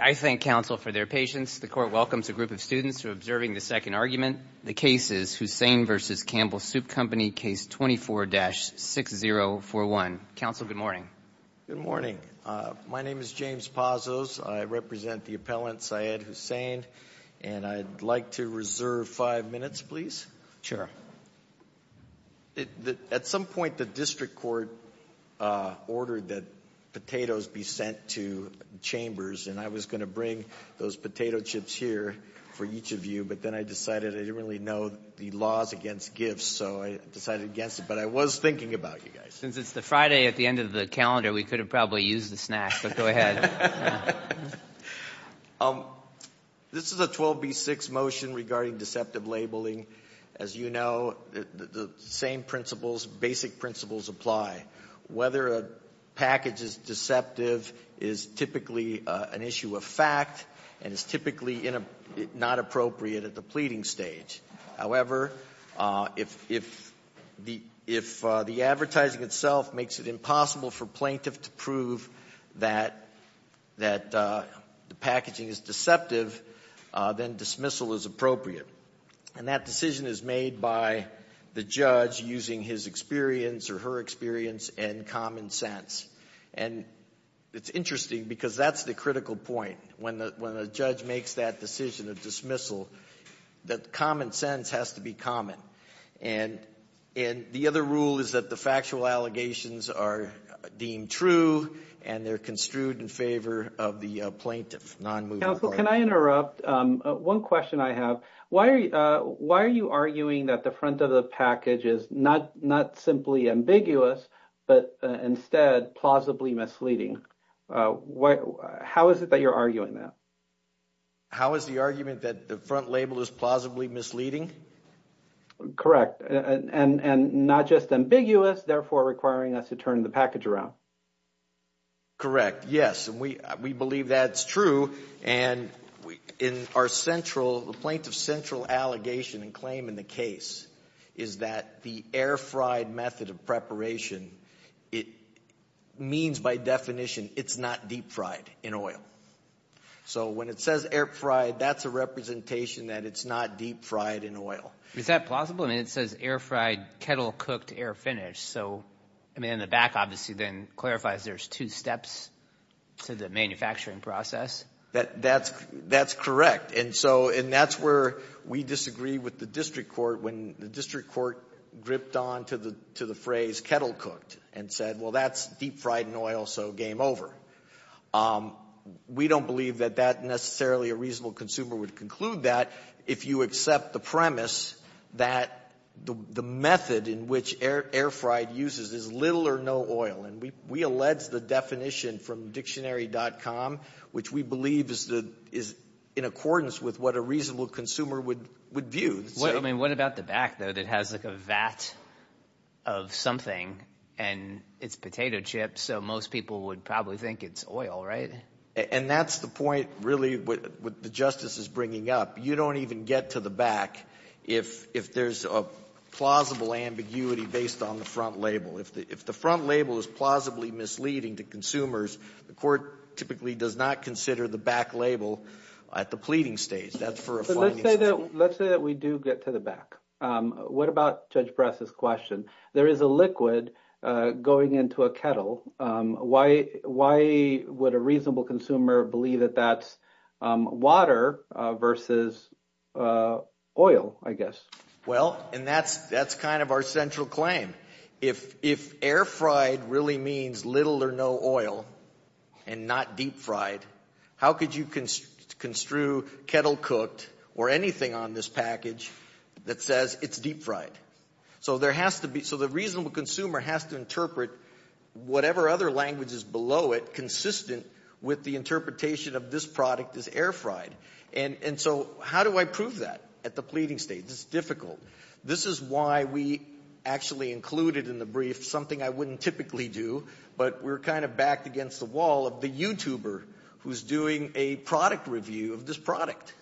I thank counsel for their patience. The court welcomes a group of students to observing the second argument. The case is Hussain v. Campbell Soup Company, case 24-6041. Counsel, good morning. Good morning. My name is James Pazos. I represent the appellant, Syed Hussain. And I'd like to reserve five minutes, please. Sure. At some point, the district court ordered that potatoes be sent to chambers. And I was going to bring those potato chips here for each of you. But then I decided I didn't really know the laws against gifts, so I decided against it. But I was thinking about you guys. Since it's the Friday at the end of the calendar, we could have probably used a snack. But go ahead. This is a 12b-6 motion regarding deceptive labeling. As you know, the same principles, basic principles, apply. Whether a package is deceptive is typically an issue of fact and is typically not appropriate at the pleading stage. However, if the advertising itself makes it impossible for plaintiff to prove that the packaging is deceptive, then dismissal is appropriate. And that decision is made by the judge using his experience or her experience and common sense. And it's interesting because that's the critical point. When the judge makes that decision of dismissal, that common sense has to be common. And the other rule is that the factual allegations are deemed true, and they're construed in favor of the plaintiff, nonmovable. Counsel, can I interrupt? One question I have. Why are you arguing that the front of the package is not simply ambiguous, but instead plausibly misleading? How is it that you're arguing that? How is the argument that the front label is plausibly misleading? Correct. And not just ambiguous, therefore requiring us to turn the package around. Correct, yes. And we believe that's true. And in our central, the plaintiff's central allegation and claim in the case is that the air fried method of preparation, it means by definition it's not deep fried in oil. So when it says air fried, that's a representation that it's not deep fried in oil. Is that plausible? I mean, it says air fried, kettle cooked, air finished. So in the back obviously then clarifies there's two steps to the manufacturing process. That's correct. And so that's where we disagree with the district court when the district court gripped on to the phrase kettle cooked and said, well, that's deep fried in oil, so game over. We don't believe that that necessarily a reasonable consumer would conclude that if you accept the premise that the method in which air fried uses is little or no oil. And we allege the definition from dictionary.com, which we believe is in accordance with what a reasonable consumer would view. I mean, what about the back, though, that has like a vat of something and it's potato chips, so most people would probably think it's oil, right? And that's the point really what the justice is bringing up. You don't even get to the back if there's a plausible ambiguity based on the front label. If the front label is plausibly misleading to consumers, the court typically does not consider the back label at the pleading stage. Let's say that we do get to the back. What about Judge Press's question? There is a liquid going into a kettle. Why would a reasonable consumer believe that that's water versus oil, I guess? Well, and that's kind of our central claim. If air fried really means little or no oil and not deep fried, how could you construe kettle cooked or anything on this package that says it's deep fried? So the reasonable consumer has to interpret whatever other language is below it consistent with the interpretation of this product as air fried. And so how do I prove that at the pleading stage? It's difficult. This is why we actually included in the brief something I wouldn't typically do, but we're kind of backed against the wall of the YouTuber who's doing a product review of this product.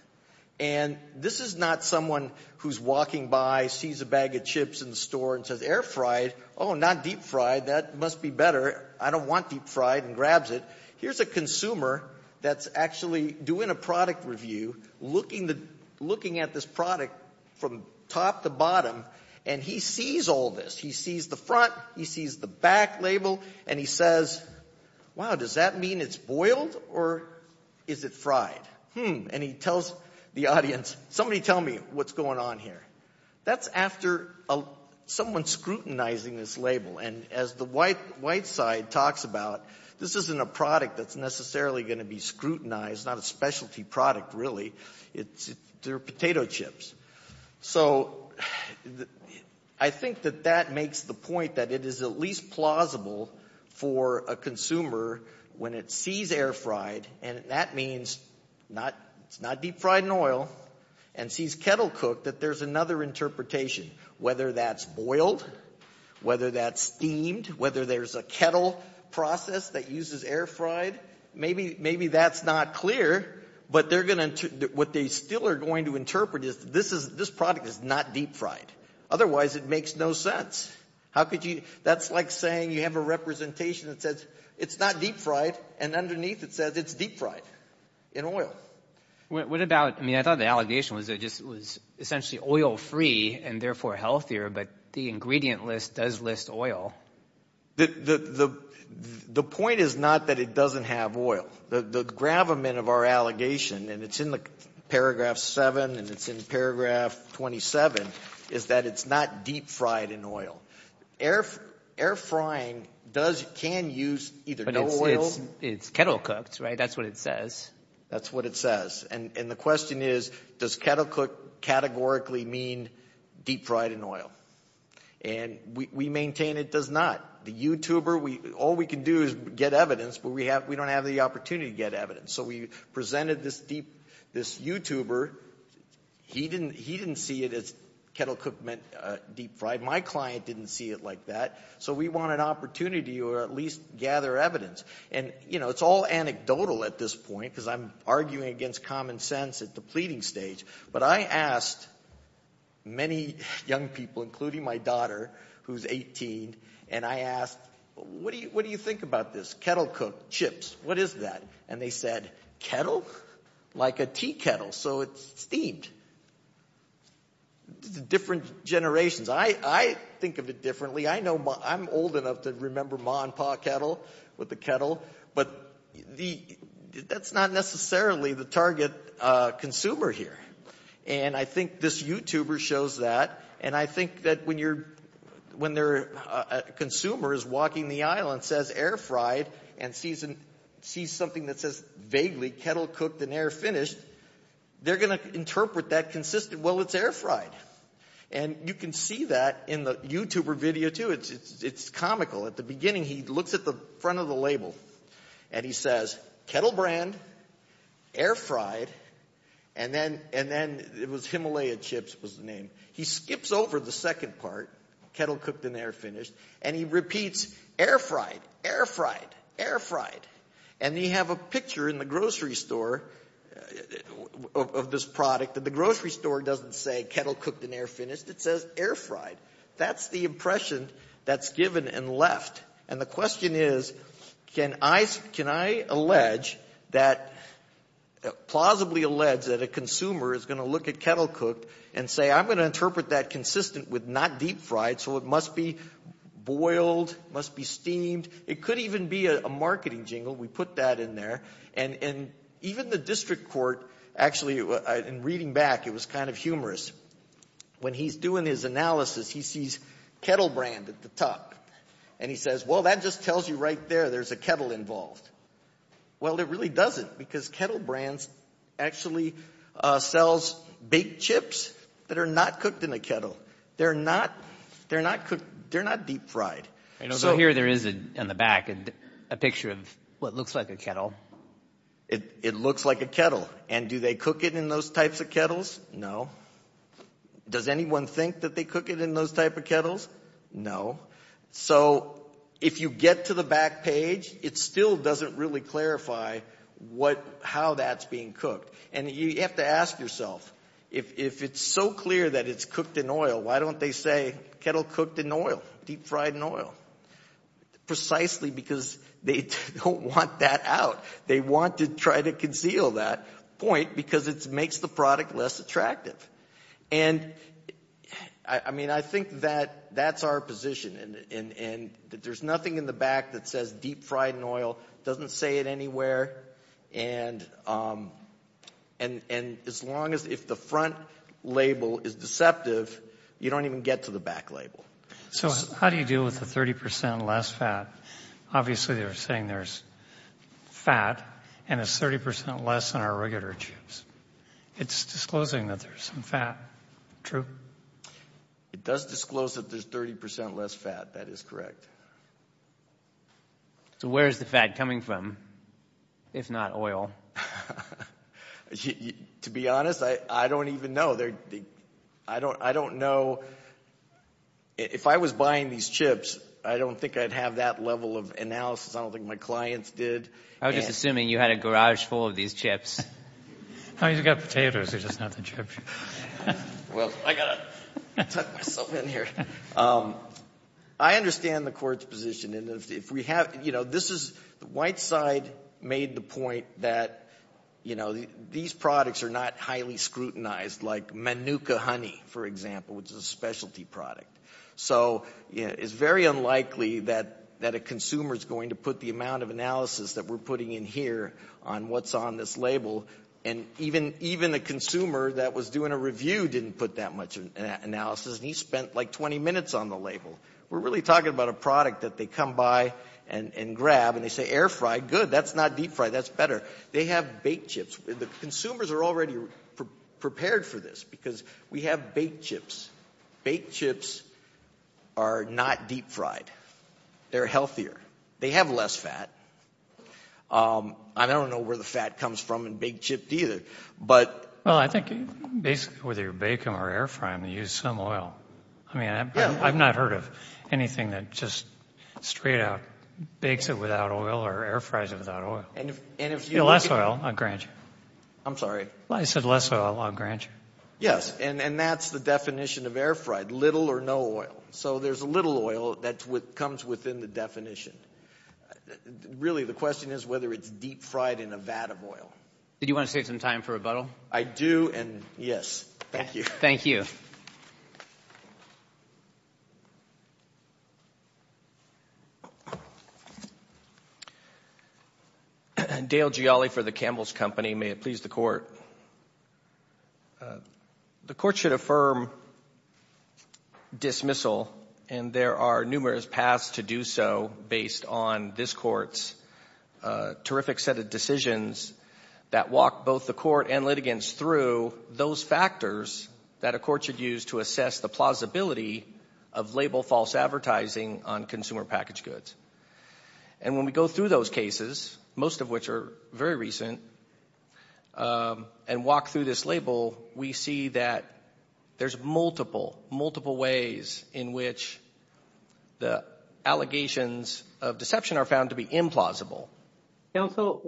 And this is not someone who's walking by, sees a bag of chips in the store and says, air fried? Oh, not deep fried. That must be better. I don't want deep fried, and grabs it. Here's a consumer that's actually doing a product review, looking at this product from top to bottom, and he sees all this. He sees the front, he sees the back label, and he says, wow, does that mean it's boiled or is it fried? And he tells the audience, somebody tell me what's going on here. That's after someone scrutinizing this label. And as the white side talks about, this isn't a product that's necessarily going to be scrutinized, not a specialty product really. They're potato chips. So I think that that makes the point that it is at least plausible for a consumer, when it sees air fried, and that means it's not deep fried in oil, and sees kettle cooked, that there's another interpretation. Whether that's boiled, whether that's steamed, whether there's a kettle process that uses air fried, maybe that's not clear. But what they still are going to interpret is this product is not deep fried. Otherwise, it makes no sense. That's like saying you have a representation that says it's not deep fried, and underneath it says it's deep fried in oil. What about, I mean I thought the allegation was that it was essentially oil free and therefore healthier, but the ingredient list does list oil. The point is not that it doesn't have oil. The gravamen of our allegation, and it's in the paragraph 7 and it's in paragraph 27, is that it's not deep fried in oil. Air frying does, can use either no oil. It's kettle cooked, right? That's what it says. That's what it says. And the question is, does kettle cooked categorically mean deep fried in oil? And we maintain it does not. The YouTuber, all we can do is get evidence, but we don't have the opportunity to get evidence. So we presented this YouTuber. He didn't see it as kettle cooked meant deep fried. My client didn't see it like that. So we want an opportunity to at least gather evidence. And, you know, it's all anecdotal at this point because I'm arguing against common sense at the pleading stage. But I asked many young people, including my daughter, who's 18, and I asked, what do you think about this? Kettle cooked, chips, what is that? And they said, kettle? Like a tea kettle. So it's steamed. Different generations. I think of it differently. I know I'm old enough to remember ma and pa kettle with the kettle. But that's not necessarily the target consumer here. And I think this YouTuber shows that. And I think that when a consumer is walking the aisle and says air fried and sees something that says vaguely kettle cooked and air finished, they're going to interpret that consistently, well, it's air fried. And you can see that in the YouTuber video, too. It's comical. At the beginning he looks at the front of the label and he says kettle brand, air fried, and then it was Himalaya chips was the name. He skips over the second part, kettle cooked and air finished, and he repeats air fried, air fried, air fried. And you have a picture in the grocery store of this product. And the grocery store doesn't say kettle cooked and air finished. It says air fried. That's the impression that's given and left. And the question is, can I allege that, plausibly allege that a consumer is going to look at kettle cooked and say, I'm going to interpret that consistent with not deep fried, so it must be boiled, must be steamed. It could even be a marketing jingle. We put that in there. And even the district court actually, in reading back, it was kind of humorous. When he's doing his analysis, he sees kettle brand at the top. And he says, well, that just tells you right there there's a kettle involved. Well, it really doesn't because kettle brands actually sells baked chips that are not cooked in a kettle. They're not deep fried. So here there is in the back a picture of what looks like a kettle. It looks like a kettle. And do they cook it in those types of kettles? No. Does anyone think that they cook it in those type of kettles? No. So if you get to the back page, it still doesn't really clarify how that's being cooked. And you have to ask yourself, if it's so clear that it's cooked in oil, why don't they say kettle cooked in oil, deep fried in oil? Precisely because they don't want that out. They want to try to conceal that point because it makes the product less attractive. And, I mean, I think that that's our position. And there's nothing in the back that says deep fried in oil, doesn't say it anywhere. And as long as if the front label is deceptive, you don't even get to the back label. So how do you deal with the 30 percent less fat? Obviously they're saying there's fat and it's 30 percent less in our regular chips. It's disclosing that there's some fat. True? It does disclose that there's 30 percent less fat. That is correct. So where is the fat coming from, if not oil? To be honest, I don't even know. I don't know. If I was buying these chips, I don't think I'd have that level of analysis. I don't think my clients did. I was just assuming you had a garage full of these chips. I've got potatoes, they're just not the chips. Well, I've got to tuck myself in here. I understand the court's position. The white side made the point that these products are not highly scrutinized, like Manuka honey, for example, which is a specialty product. So it's very unlikely that a consumer is going to put the amount of analysis that we're putting in here on what's on this label. And even a consumer that was doing a review didn't put that much analysis, and he spent like 20 minutes on the label. We're really talking about a product that they come by and grab, and they say air fried, good. That's not deep fried. That's better. They have baked chips. The consumers are already prepared for this because we have baked chips. Baked chips are not deep fried. They're healthier. They have less fat. I don't know where the fat comes from in baked chips either. Well, I think basically whether you bake them or air fry them, you use some oil. I've not heard of anything that just straight out bakes it without oil or air fries it without oil. Less oil, I'll grant you. I'm sorry? I said less oil, I'll grant you. Yes, and that's the definition of air fried, little or no oil. So there's a little oil that comes within the definition. Really, the question is whether it's deep fried in a vat of oil. Did you want to save some time for rebuttal? I do, and yes. Thank you. Thank you. Dale Gialli for the Campbell's Company. May it please the Court. The Court should affirm dismissal, and there are numerous paths to do so based on this Court's terrific set of factors that a court should use to assess the plausibility of label false advertising on consumer packaged goods. And when we go through those cases, most of which are very recent, and walk through this label, we see that there's multiple, multiple ways in which the allegations of deception are found to be implausible. Counsel,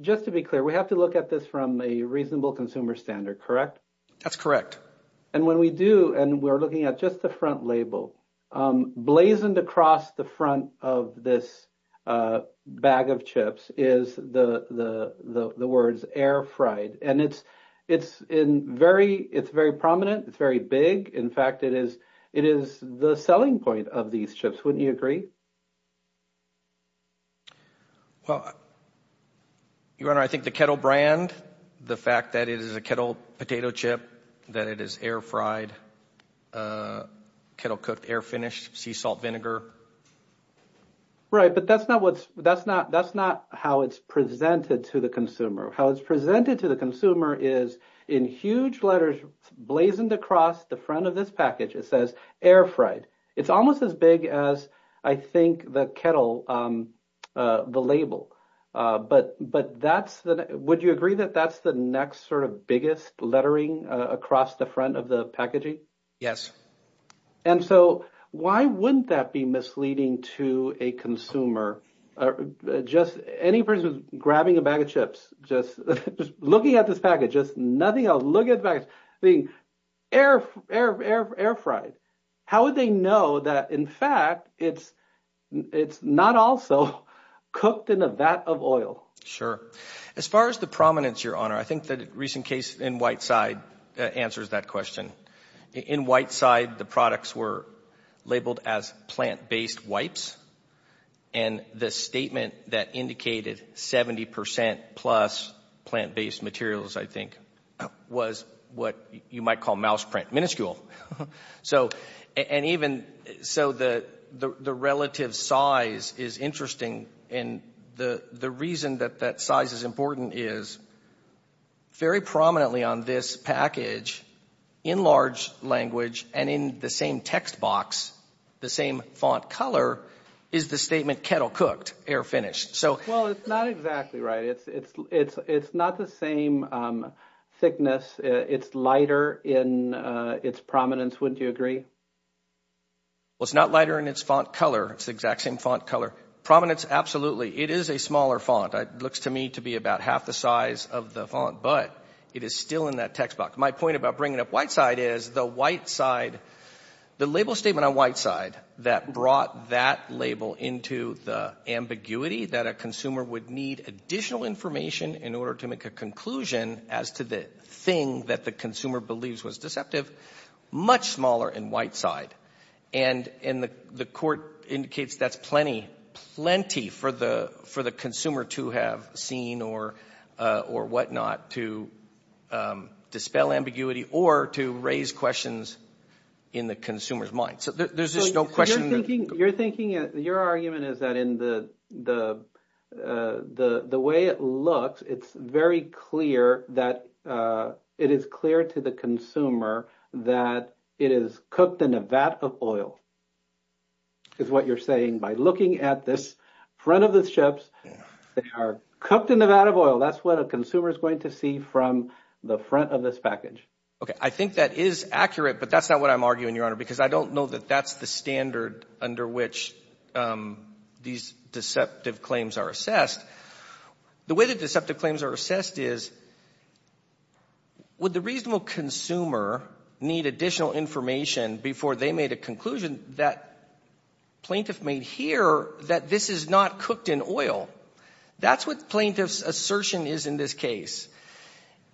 just to be clear, we have to look at this from a reasonable consumer standard, correct? That's correct. And when we do, and we're looking at just the front label, blazoned across the front of this bag of chips is the words air fried. And it's very prominent. It's very big. In fact, it is the selling point of these chips. Wouldn't you agree? Well, Your Honor, I think the kettle brand, the fact that it is a kettle potato chip, that it is air fried, kettle cooked, air finished, sea salt vinegar. Right, but that's not what's, that's not, that's not how it's presented to the consumer. How it's presented to the consumer is in huge letters, blazoned across the front of this package. It says air fried. It's almost as big as I think the kettle, the label. But that's the, would you agree that that's the next sort of biggest lettering across the front of the packaging? Yes. And so why wouldn't that be misleading to a consumer? Just any person grabbing a bag of chips, just looking at this package, just nothing else. Look at the package. Air fried. How would they know that, in fact, it's not also cooked in a vat of oil? Sure. As far as the prominence, Your Honor, I think the recent case in Whiteside answers that question. In Whiteside, the products were labeled as plant-based wipes. And the statement that indicated 70% plus plant-based materials, I think, was what you might call mouse print, minuscule. And even so, the relative size is interesting. And the reason that that size is important is very prominently on this package, in large language and in the same text box, the same font color, is the statement kettle cooked, air finished. Well, it's not exactly right. It's not the same thickness. It's lighter in its prominence. Wouldn't you agree? Well, it's not lighter in its font color. It's the exact same font color. Prominence, absolutely. It is a smaller font. It looks to me to be about half the size of the font, but it is still in that text box. My point about bringing up Whiteside is the label statement on Whiteside that brought that label into the ambiguity that a consumer would need additional information in order to make a conclusion as to the thing that the consumer believes was deceptive, much smaller in Whiteside. And the court indicates that's plenty, plenty for the consumer to have seen or whatnot to dispel ambiguity or to raise questions in the consumer's mind. So there's just no question. Your argument is that in the way it looks, it's very clear that it is clear to the consumer that it is cooked in a vat of oil, is what you're saying. By looking at this front of the chips, they are cooked in a vat of oil. That's what a consumer is going to see from the front of this package. Okay, I think that is accurate, but that's not what I'm arguing, Your Honor, because I don't know that that's the standard under which these deceptive claims are assessed. The way that deceptive claims are assessed is, would the reasonable consumer need additional information before they made a conclusion that plaintiff made here that this is not cooked in oil? That's what plaintiff's assertion is in this case.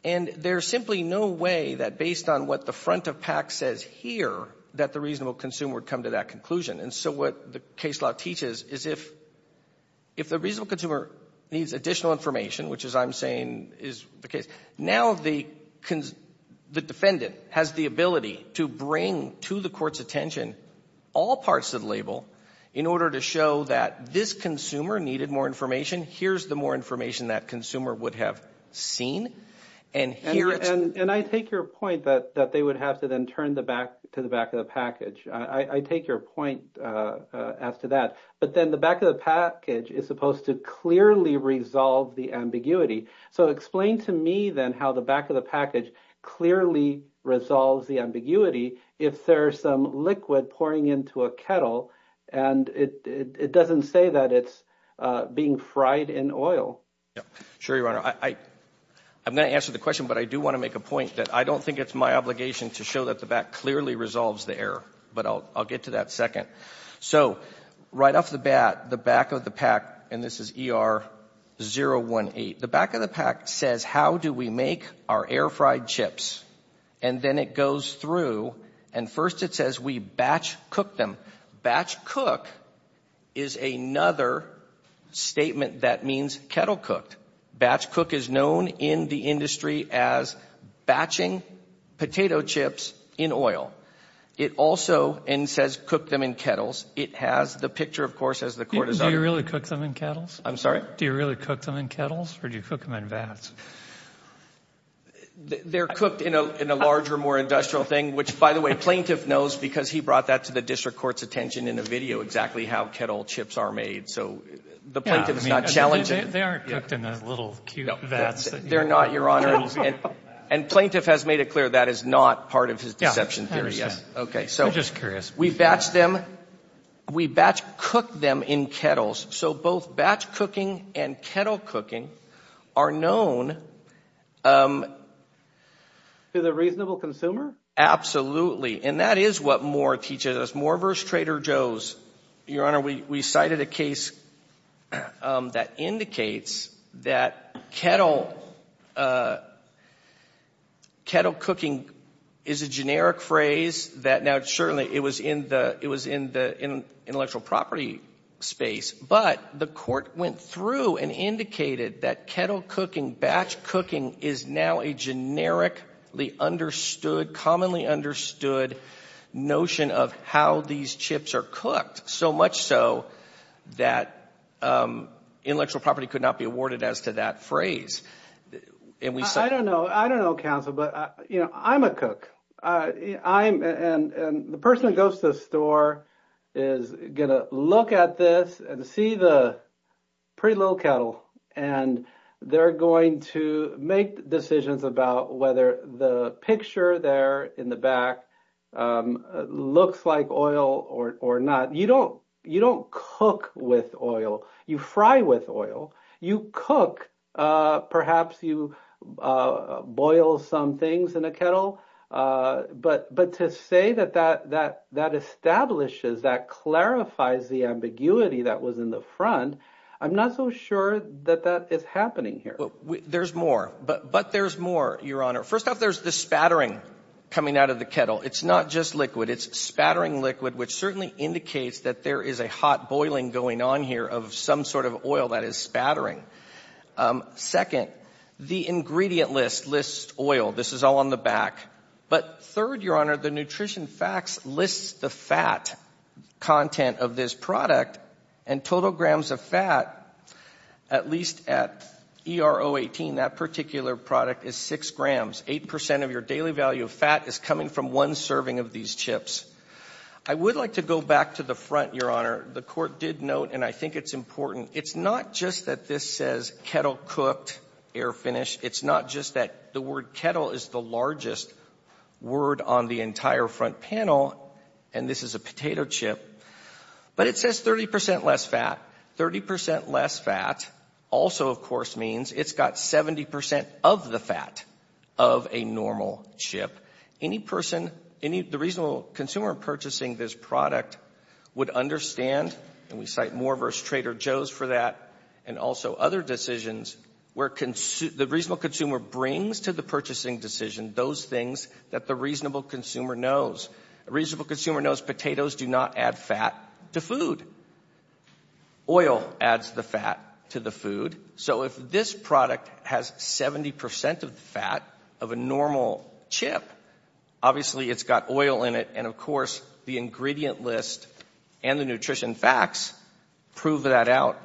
And there's simply no way that, based on what the front of PAC says here, that the reasonable consumer would come to that conclusion. And so what the case law teaches is if the reasonable consumer needs additional information, which, as I'm saying, is the case, now the defendant has the ability to bring to the Court's attention all parts of the label in order to show that this consumer needed more information, here's the more information that consumer would have seen. And I take your point that they would have to then turn to the back of the package. I take your point as to that. But then the back of the package is supposed to clearly resolve the ambiguity. So explain to me, then, how the back of the package clearly resolves the ambiguity if there's some liquid pouring into a kettle and it doesn't say that it's being fried in oil. Sure, Your Honor. I'm going to answer the question, but I do want to make a point that I don't think it's my obligation to show that the back clearly resolves the error. But I'll get to that second. So right off the bat, the back of the PAC, and this is ER-018, the back of the PAC says, how do we make our air fried chips? And then it goes through, and first it says we batch cook them. Batch cook is another statement that means kettle cooked. Batch cook is known in the industry as batching potato chips in oil. It also, and it says cook them in kettles, it has the picture, of course, as the court has done. Do you really cook them in kettles? I'm sorry? Do you really cook them in kettles or do you cook them in vats? They're cooked in a larger, more industrial thing, which, by the way, the plaintiff knows because he brought that to the district court's attention in a video, exactly how kettle chips are made. So the plaintiff is not challenging it. They aren't cooked in those little cute vats. They're not, Your Honor. And plaintiff has made it clear that is not part of his deception theory. Okay. I'm just curious. We batch them. We batch cook them in kettles. So both batch cooking and kettle cooking are known. To the reasonable consumer? Absolutely. And that is what Moore teaches us. Moore v. Trader Joe's. Your Honor, we cited a case that indicates that kettle cooking is a generic phrase. Now, certainly it was in the intellectual property space, but the court went through and indicated that kettle cooking, batch cooking, is now a generically understood, commonly understood notion of how these chips are cooked, so much so that intellectual property could not be awarded as to that phrase. I don't know, counsel, but, you know, I'm a cook. And the person who goes to the store is going to look at this and see the pretty little kettle, and they're going to make decisions about whether the picture there in the back looks like oil or not. You don't cook with oil. You fry with oil. You cook. Perhaps you boil some things in a kettle. But to say that that establishes, that clarifies the ambiguity that was in the front, I'm not so sure that that is happening here. There's more, but there's more, Your Honor. First off, there's the spattering coming out of the kettle. It's not just liquid. It's spattering liquid, which certainly indicates that there is a hot boiling going on here of some sort of oil that is spattering. Second, the ingredient list lists oil. This is all on the back. But third, Your Honor, the nutrition facts list the fat content of this product, and total grams of fat, at least at ERO 18, that particular product is six grams. Eight percent of your daily value of fat is coming from one serving of these chips. I would like to go back to the front, Your Honor. The Court did note, and I think it's important, it's not just that this says kettle cooked, air finished. It's not just that the word kettle is the largest word on the entire front panel, and this is a potato chip. But it says 30 percent less fat. Thirty percent less fat also, of course, means it's got 70 percent of the fat of a normal chip. The reasonable consumer purchasing this product would understand, and we cite Moore v. Trader Joe's for that and also other decisions, where the reasonable consumer brings to the purchasing decision those things that the reasonable consumer knows. A reasonable consumer knows potatoes do not add fat to food. Oil adds the fat to the food. So if this product has 70 percent of the fat of a normal chip, obviously it's got oil in it, and, of course, the ingredient list and the nutrition facts prove that out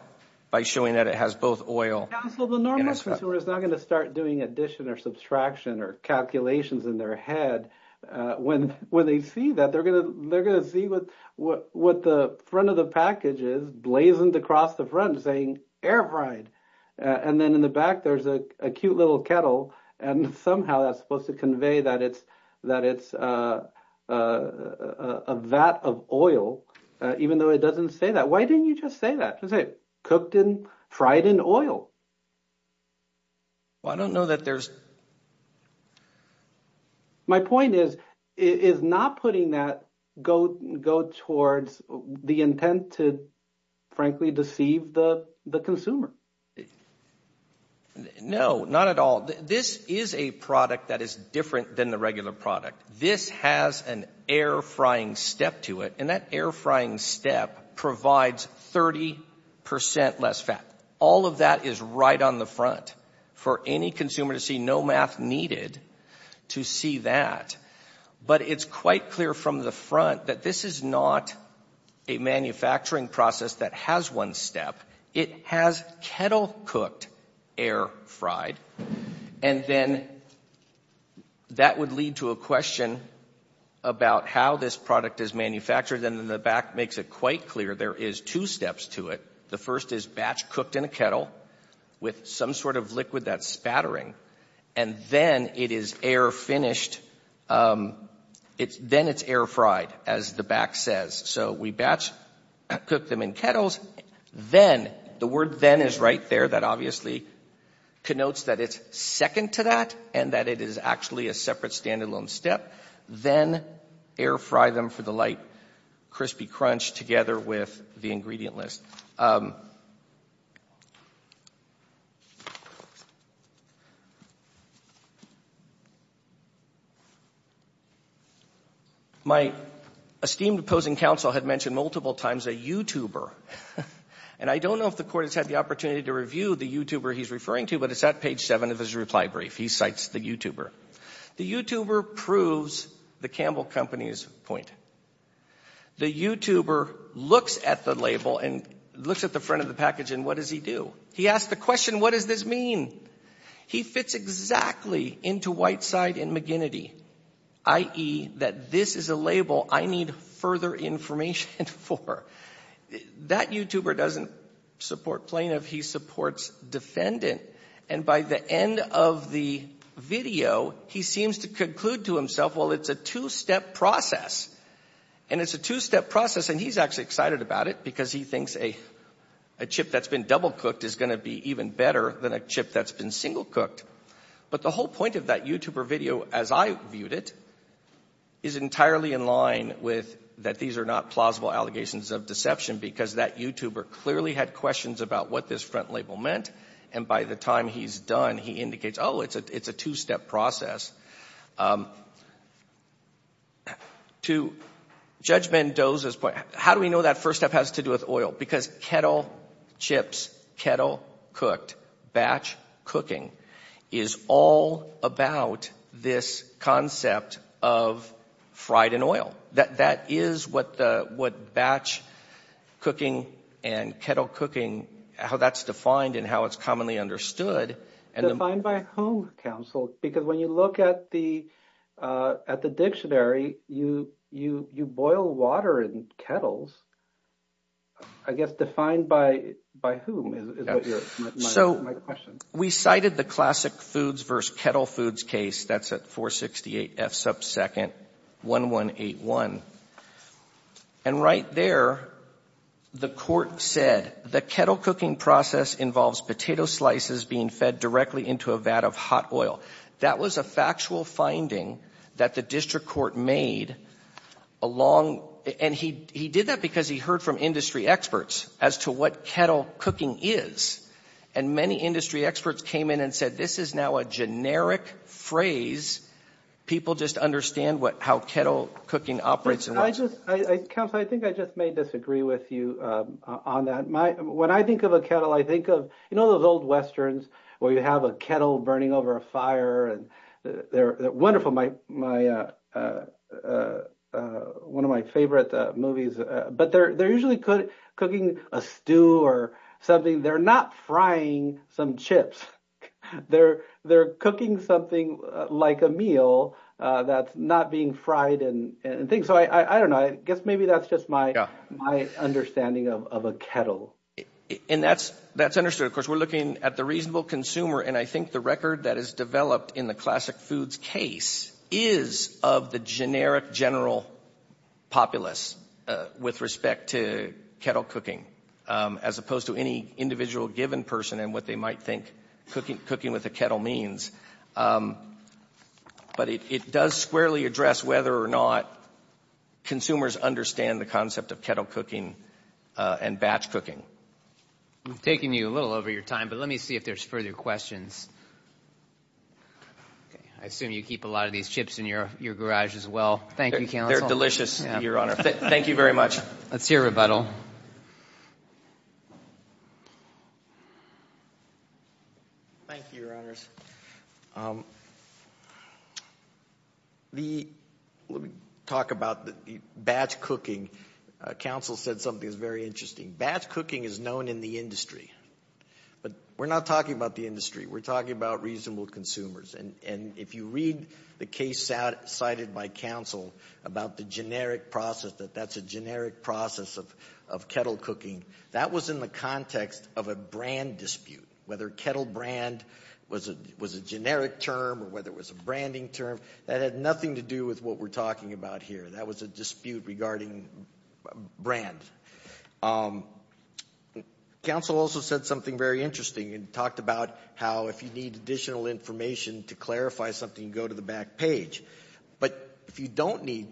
by showing that it has both oil and fat. So the normal consumer is not going to start doing addition or subtraction or calculations in their head. When they see that, they're going to see what the front of the package is, blazoned across the front saying air fried, and then in the back there's a cute little kettle, and somehow that's supposed to convey that it's a vat of oil, even though it doesn't say that. Why didn't you just say that? Just say cooked and fried in oil. Well, I don't know that there's – My point is, is not putting that go towards the intent to, frankly, deceive the consumer. No, not at all. This is a product that is different than the regular product. This has an air frying step to it, and that air frying step provides 30 percent less fat. All of that is right on the front for any consumer to see. No math needed to see that. But it's quite clear from the front that this is not a manufacturing process that has one step. It has kettle cooked, air fried, and then that would lead to a question about how this product is manufactured, and in the back makes it quite clear there is two steps to it. The first is batch cooked in a kettle with some sort of liquid that's spattering, and then it is air finished – then it's air fried, as the back says. So we batch cook them in kettles. Then – the word then is right there. That obviously connotes that it's second to that and that it is actually a separate standalone step. Then air fry them for the light crispy crunch together with the ingredient list. My esteemed opposing counsel had mentioned multiple times a YouTuber. And I don't know if the Court has had the opportunity to review the YouTuber he's referring to, but it's at page 7 of his reply brief. He cites the YouTuber. The YouTuber proves the Campbell Company's point. The YouTuber looks at the label and looks at the front of the package, and what does he do? He asks the question, what does this mean? He fits exactly into Whiteside and McGinnity, i.e., that this is a label I need further information for. That YouTuber doesn't support plaintiff. He supports defendant. And by the end of the video, he seems to conclude to himself, well, it's a two-step process. And it's a two-step process, and he's actually excited about it because he thinks a chip that's been double cooked is going to be even better than a chip that's been single cooked. But the whole point of that YouTuber video, as I viewed it, is entirely in line with that these are not plausible allegations of deception because that YouTuber clearly had questions about what this front label meant, and by the time he's done, he indicates, oh, it's a two-step process. To Judge Mendoza's point, how do we know that first step has to do with oil? Because kettle chips, kettle cooked, batch cooking is all about this concept of fried in oil. That is what batch cooking and kettle cooking, how that's defined and how it's commonly understood. Defined by whom, counsel? Because when you look at the dictionary, you boil water in kettles. I guess defined by whom is my question. We cited the classic foods versus kettle foods case. That's at 468 F sub second 1181. And right there, the court said the kettle cooking process involves potato slices being fed directly into a vat of hot oil. That was a factual finding that the district court made along — and he did that because he heard from industry experts as to what kettle cooking is. And many industry experts came in and said this is now a generic phrase. People just understand how kettle cooking operates. Counsel, I think I just may disagree with you on that. When I think of a kettle, I think of, you know, those old westerns where you have a kettle burning over a fire. They're wonderful, one of my favorite movies. But they're usually cooking a stew or something. They're not frying some chips. They're cooking something like a meal that's not being fried and things. So I don't know. I guess maybe that's just my understanding of a kettle. And that's understood. Of course, we're looking at the reasonable consumer. And I think the record that is developed in the classic foods case is of the generic general populace with respect to kettle cooking, as opposed to any individual given person and what they might think cooking with a kettle means. But it does squarely address whether or not consumers understand the concept of kettle cooking and batch cooking. I'm taking you a little over your time, but let me see if there's further questions. I assume you keep a lot of these chips in your garage as well. Thank you, Counsel. They're delicious, Your Honor. Thank you very much. Let's hear rebuttal. Thank you, Your Honors. Let me talk about batch cooking. Counsel said something that's very interesting. Batch cooking is known in the industry. But we're not talking about the industry. We're talking about reasonable consumers. And if you read the case cited by Counsel about the generic process, that that's a generic process of kettle cooking, that was in the context of a brand dispute, whether kettle brand was a generic term or whether it was a branding term. That had nothing to do with what we're talking about here. That was a dispute regarding brand. Counsel also said something very interesting and talked about how if you need additional information to clarify something, go to the back page. But if you don't need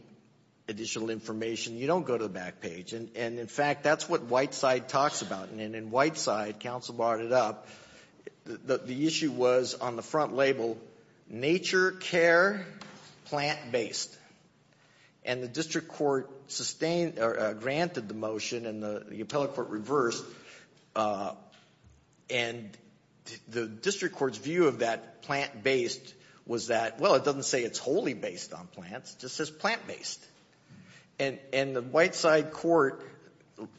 additional information, you don't go to the back page. And, in fact, that's what Whiteside talks about. And in Whiteside, Counsel brought it up, the issue was on the front label, nature care, plant-based. And the district court sustained or granted the motion and the appellate court reversed. And the district court's view of that plant-based was that, well, it doesn't say it's wholly based on plants. It just says plant-based. And the Whiteside court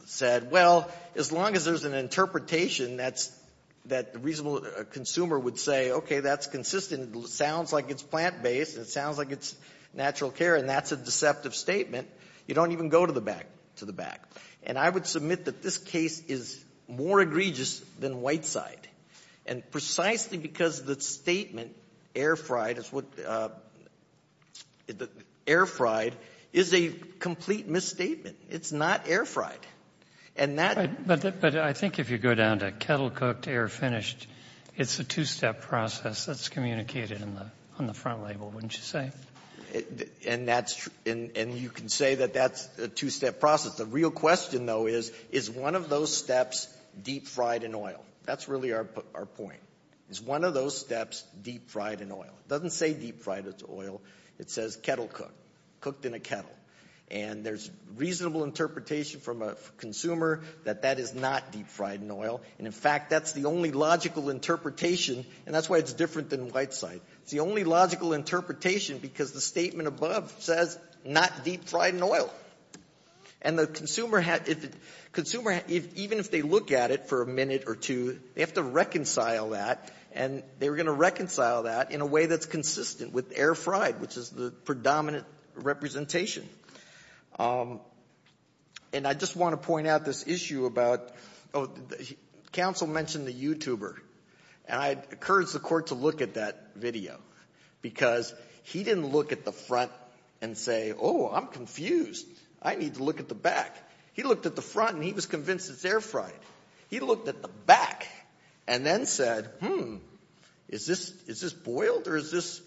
said, well, as long as there's an interpretation that's the reasonable consumer would say, okay, that's consistent. It sounds like it's plant-based. It sounds like it's natural care. And that's a deceptive statement. You don't even go to the back. And I would submit that this case is more egregious than Whiteside. And precisely because the statement, air fried, is what the — air fried is a complete misstatement. It's not air fried. And that — But I think if you go down to kettle cooked, air finished, it's a two-step process that's communicated on the front label, wouldn't you say? And that's — and you can say that that's a two-step process. The real question, though, is, is one of those steps deep fried in oil? That's really our point. Is one of those steps deep fried in oil? It doesn't say deep fried in oil. It says kettle cooked, cooked in a kettle. And there's reasonable interpretation from a consumer that that is not deep fried in oil. And, in fact, that's the only logical interpretation. And that's why it's different than Whiteside. It's the only logical interpretation because the statement above says not deep fried in oil. And the consumer had — consumer, even if they look at it for a minute or two, they have to reconcile that. And they're going to reconcile that in a way that's consistent with air fried, which is the predominant representation. And I just want to point out this issue about — counsel mentioned the YouTuber. And I encourage the Court to look at that video because he didn't look at the front and say, oh, I'm confused. I need to look at the back. He looked at the front and he was convinced it's air fried. He looked at the back and then said, hmm, is this boiled or is this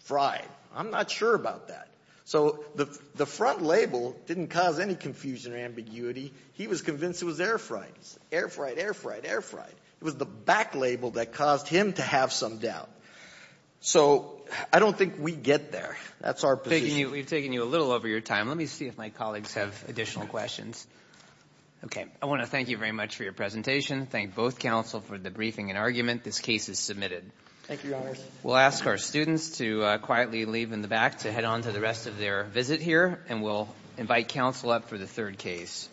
fried? I'm not sure about that. So the front label didn't cause any confusion or ambiguity. He was convinced it was air fried. Air fried, air fried, air fried. It was the back label that caused him to have some doubt. So I don't think we get there. That's our position. We've taken you a little over your time. Let me see if my colleagues have additional questions. Okay. I want to thank you very much for your presentation. Thank both counsel for the briefing and argument. This case is submitted. Thank you, Your Honors. We'll ask our students to quietly leave in the back to head on to the rest of their visit here. And we'll invite counsel up for the third case.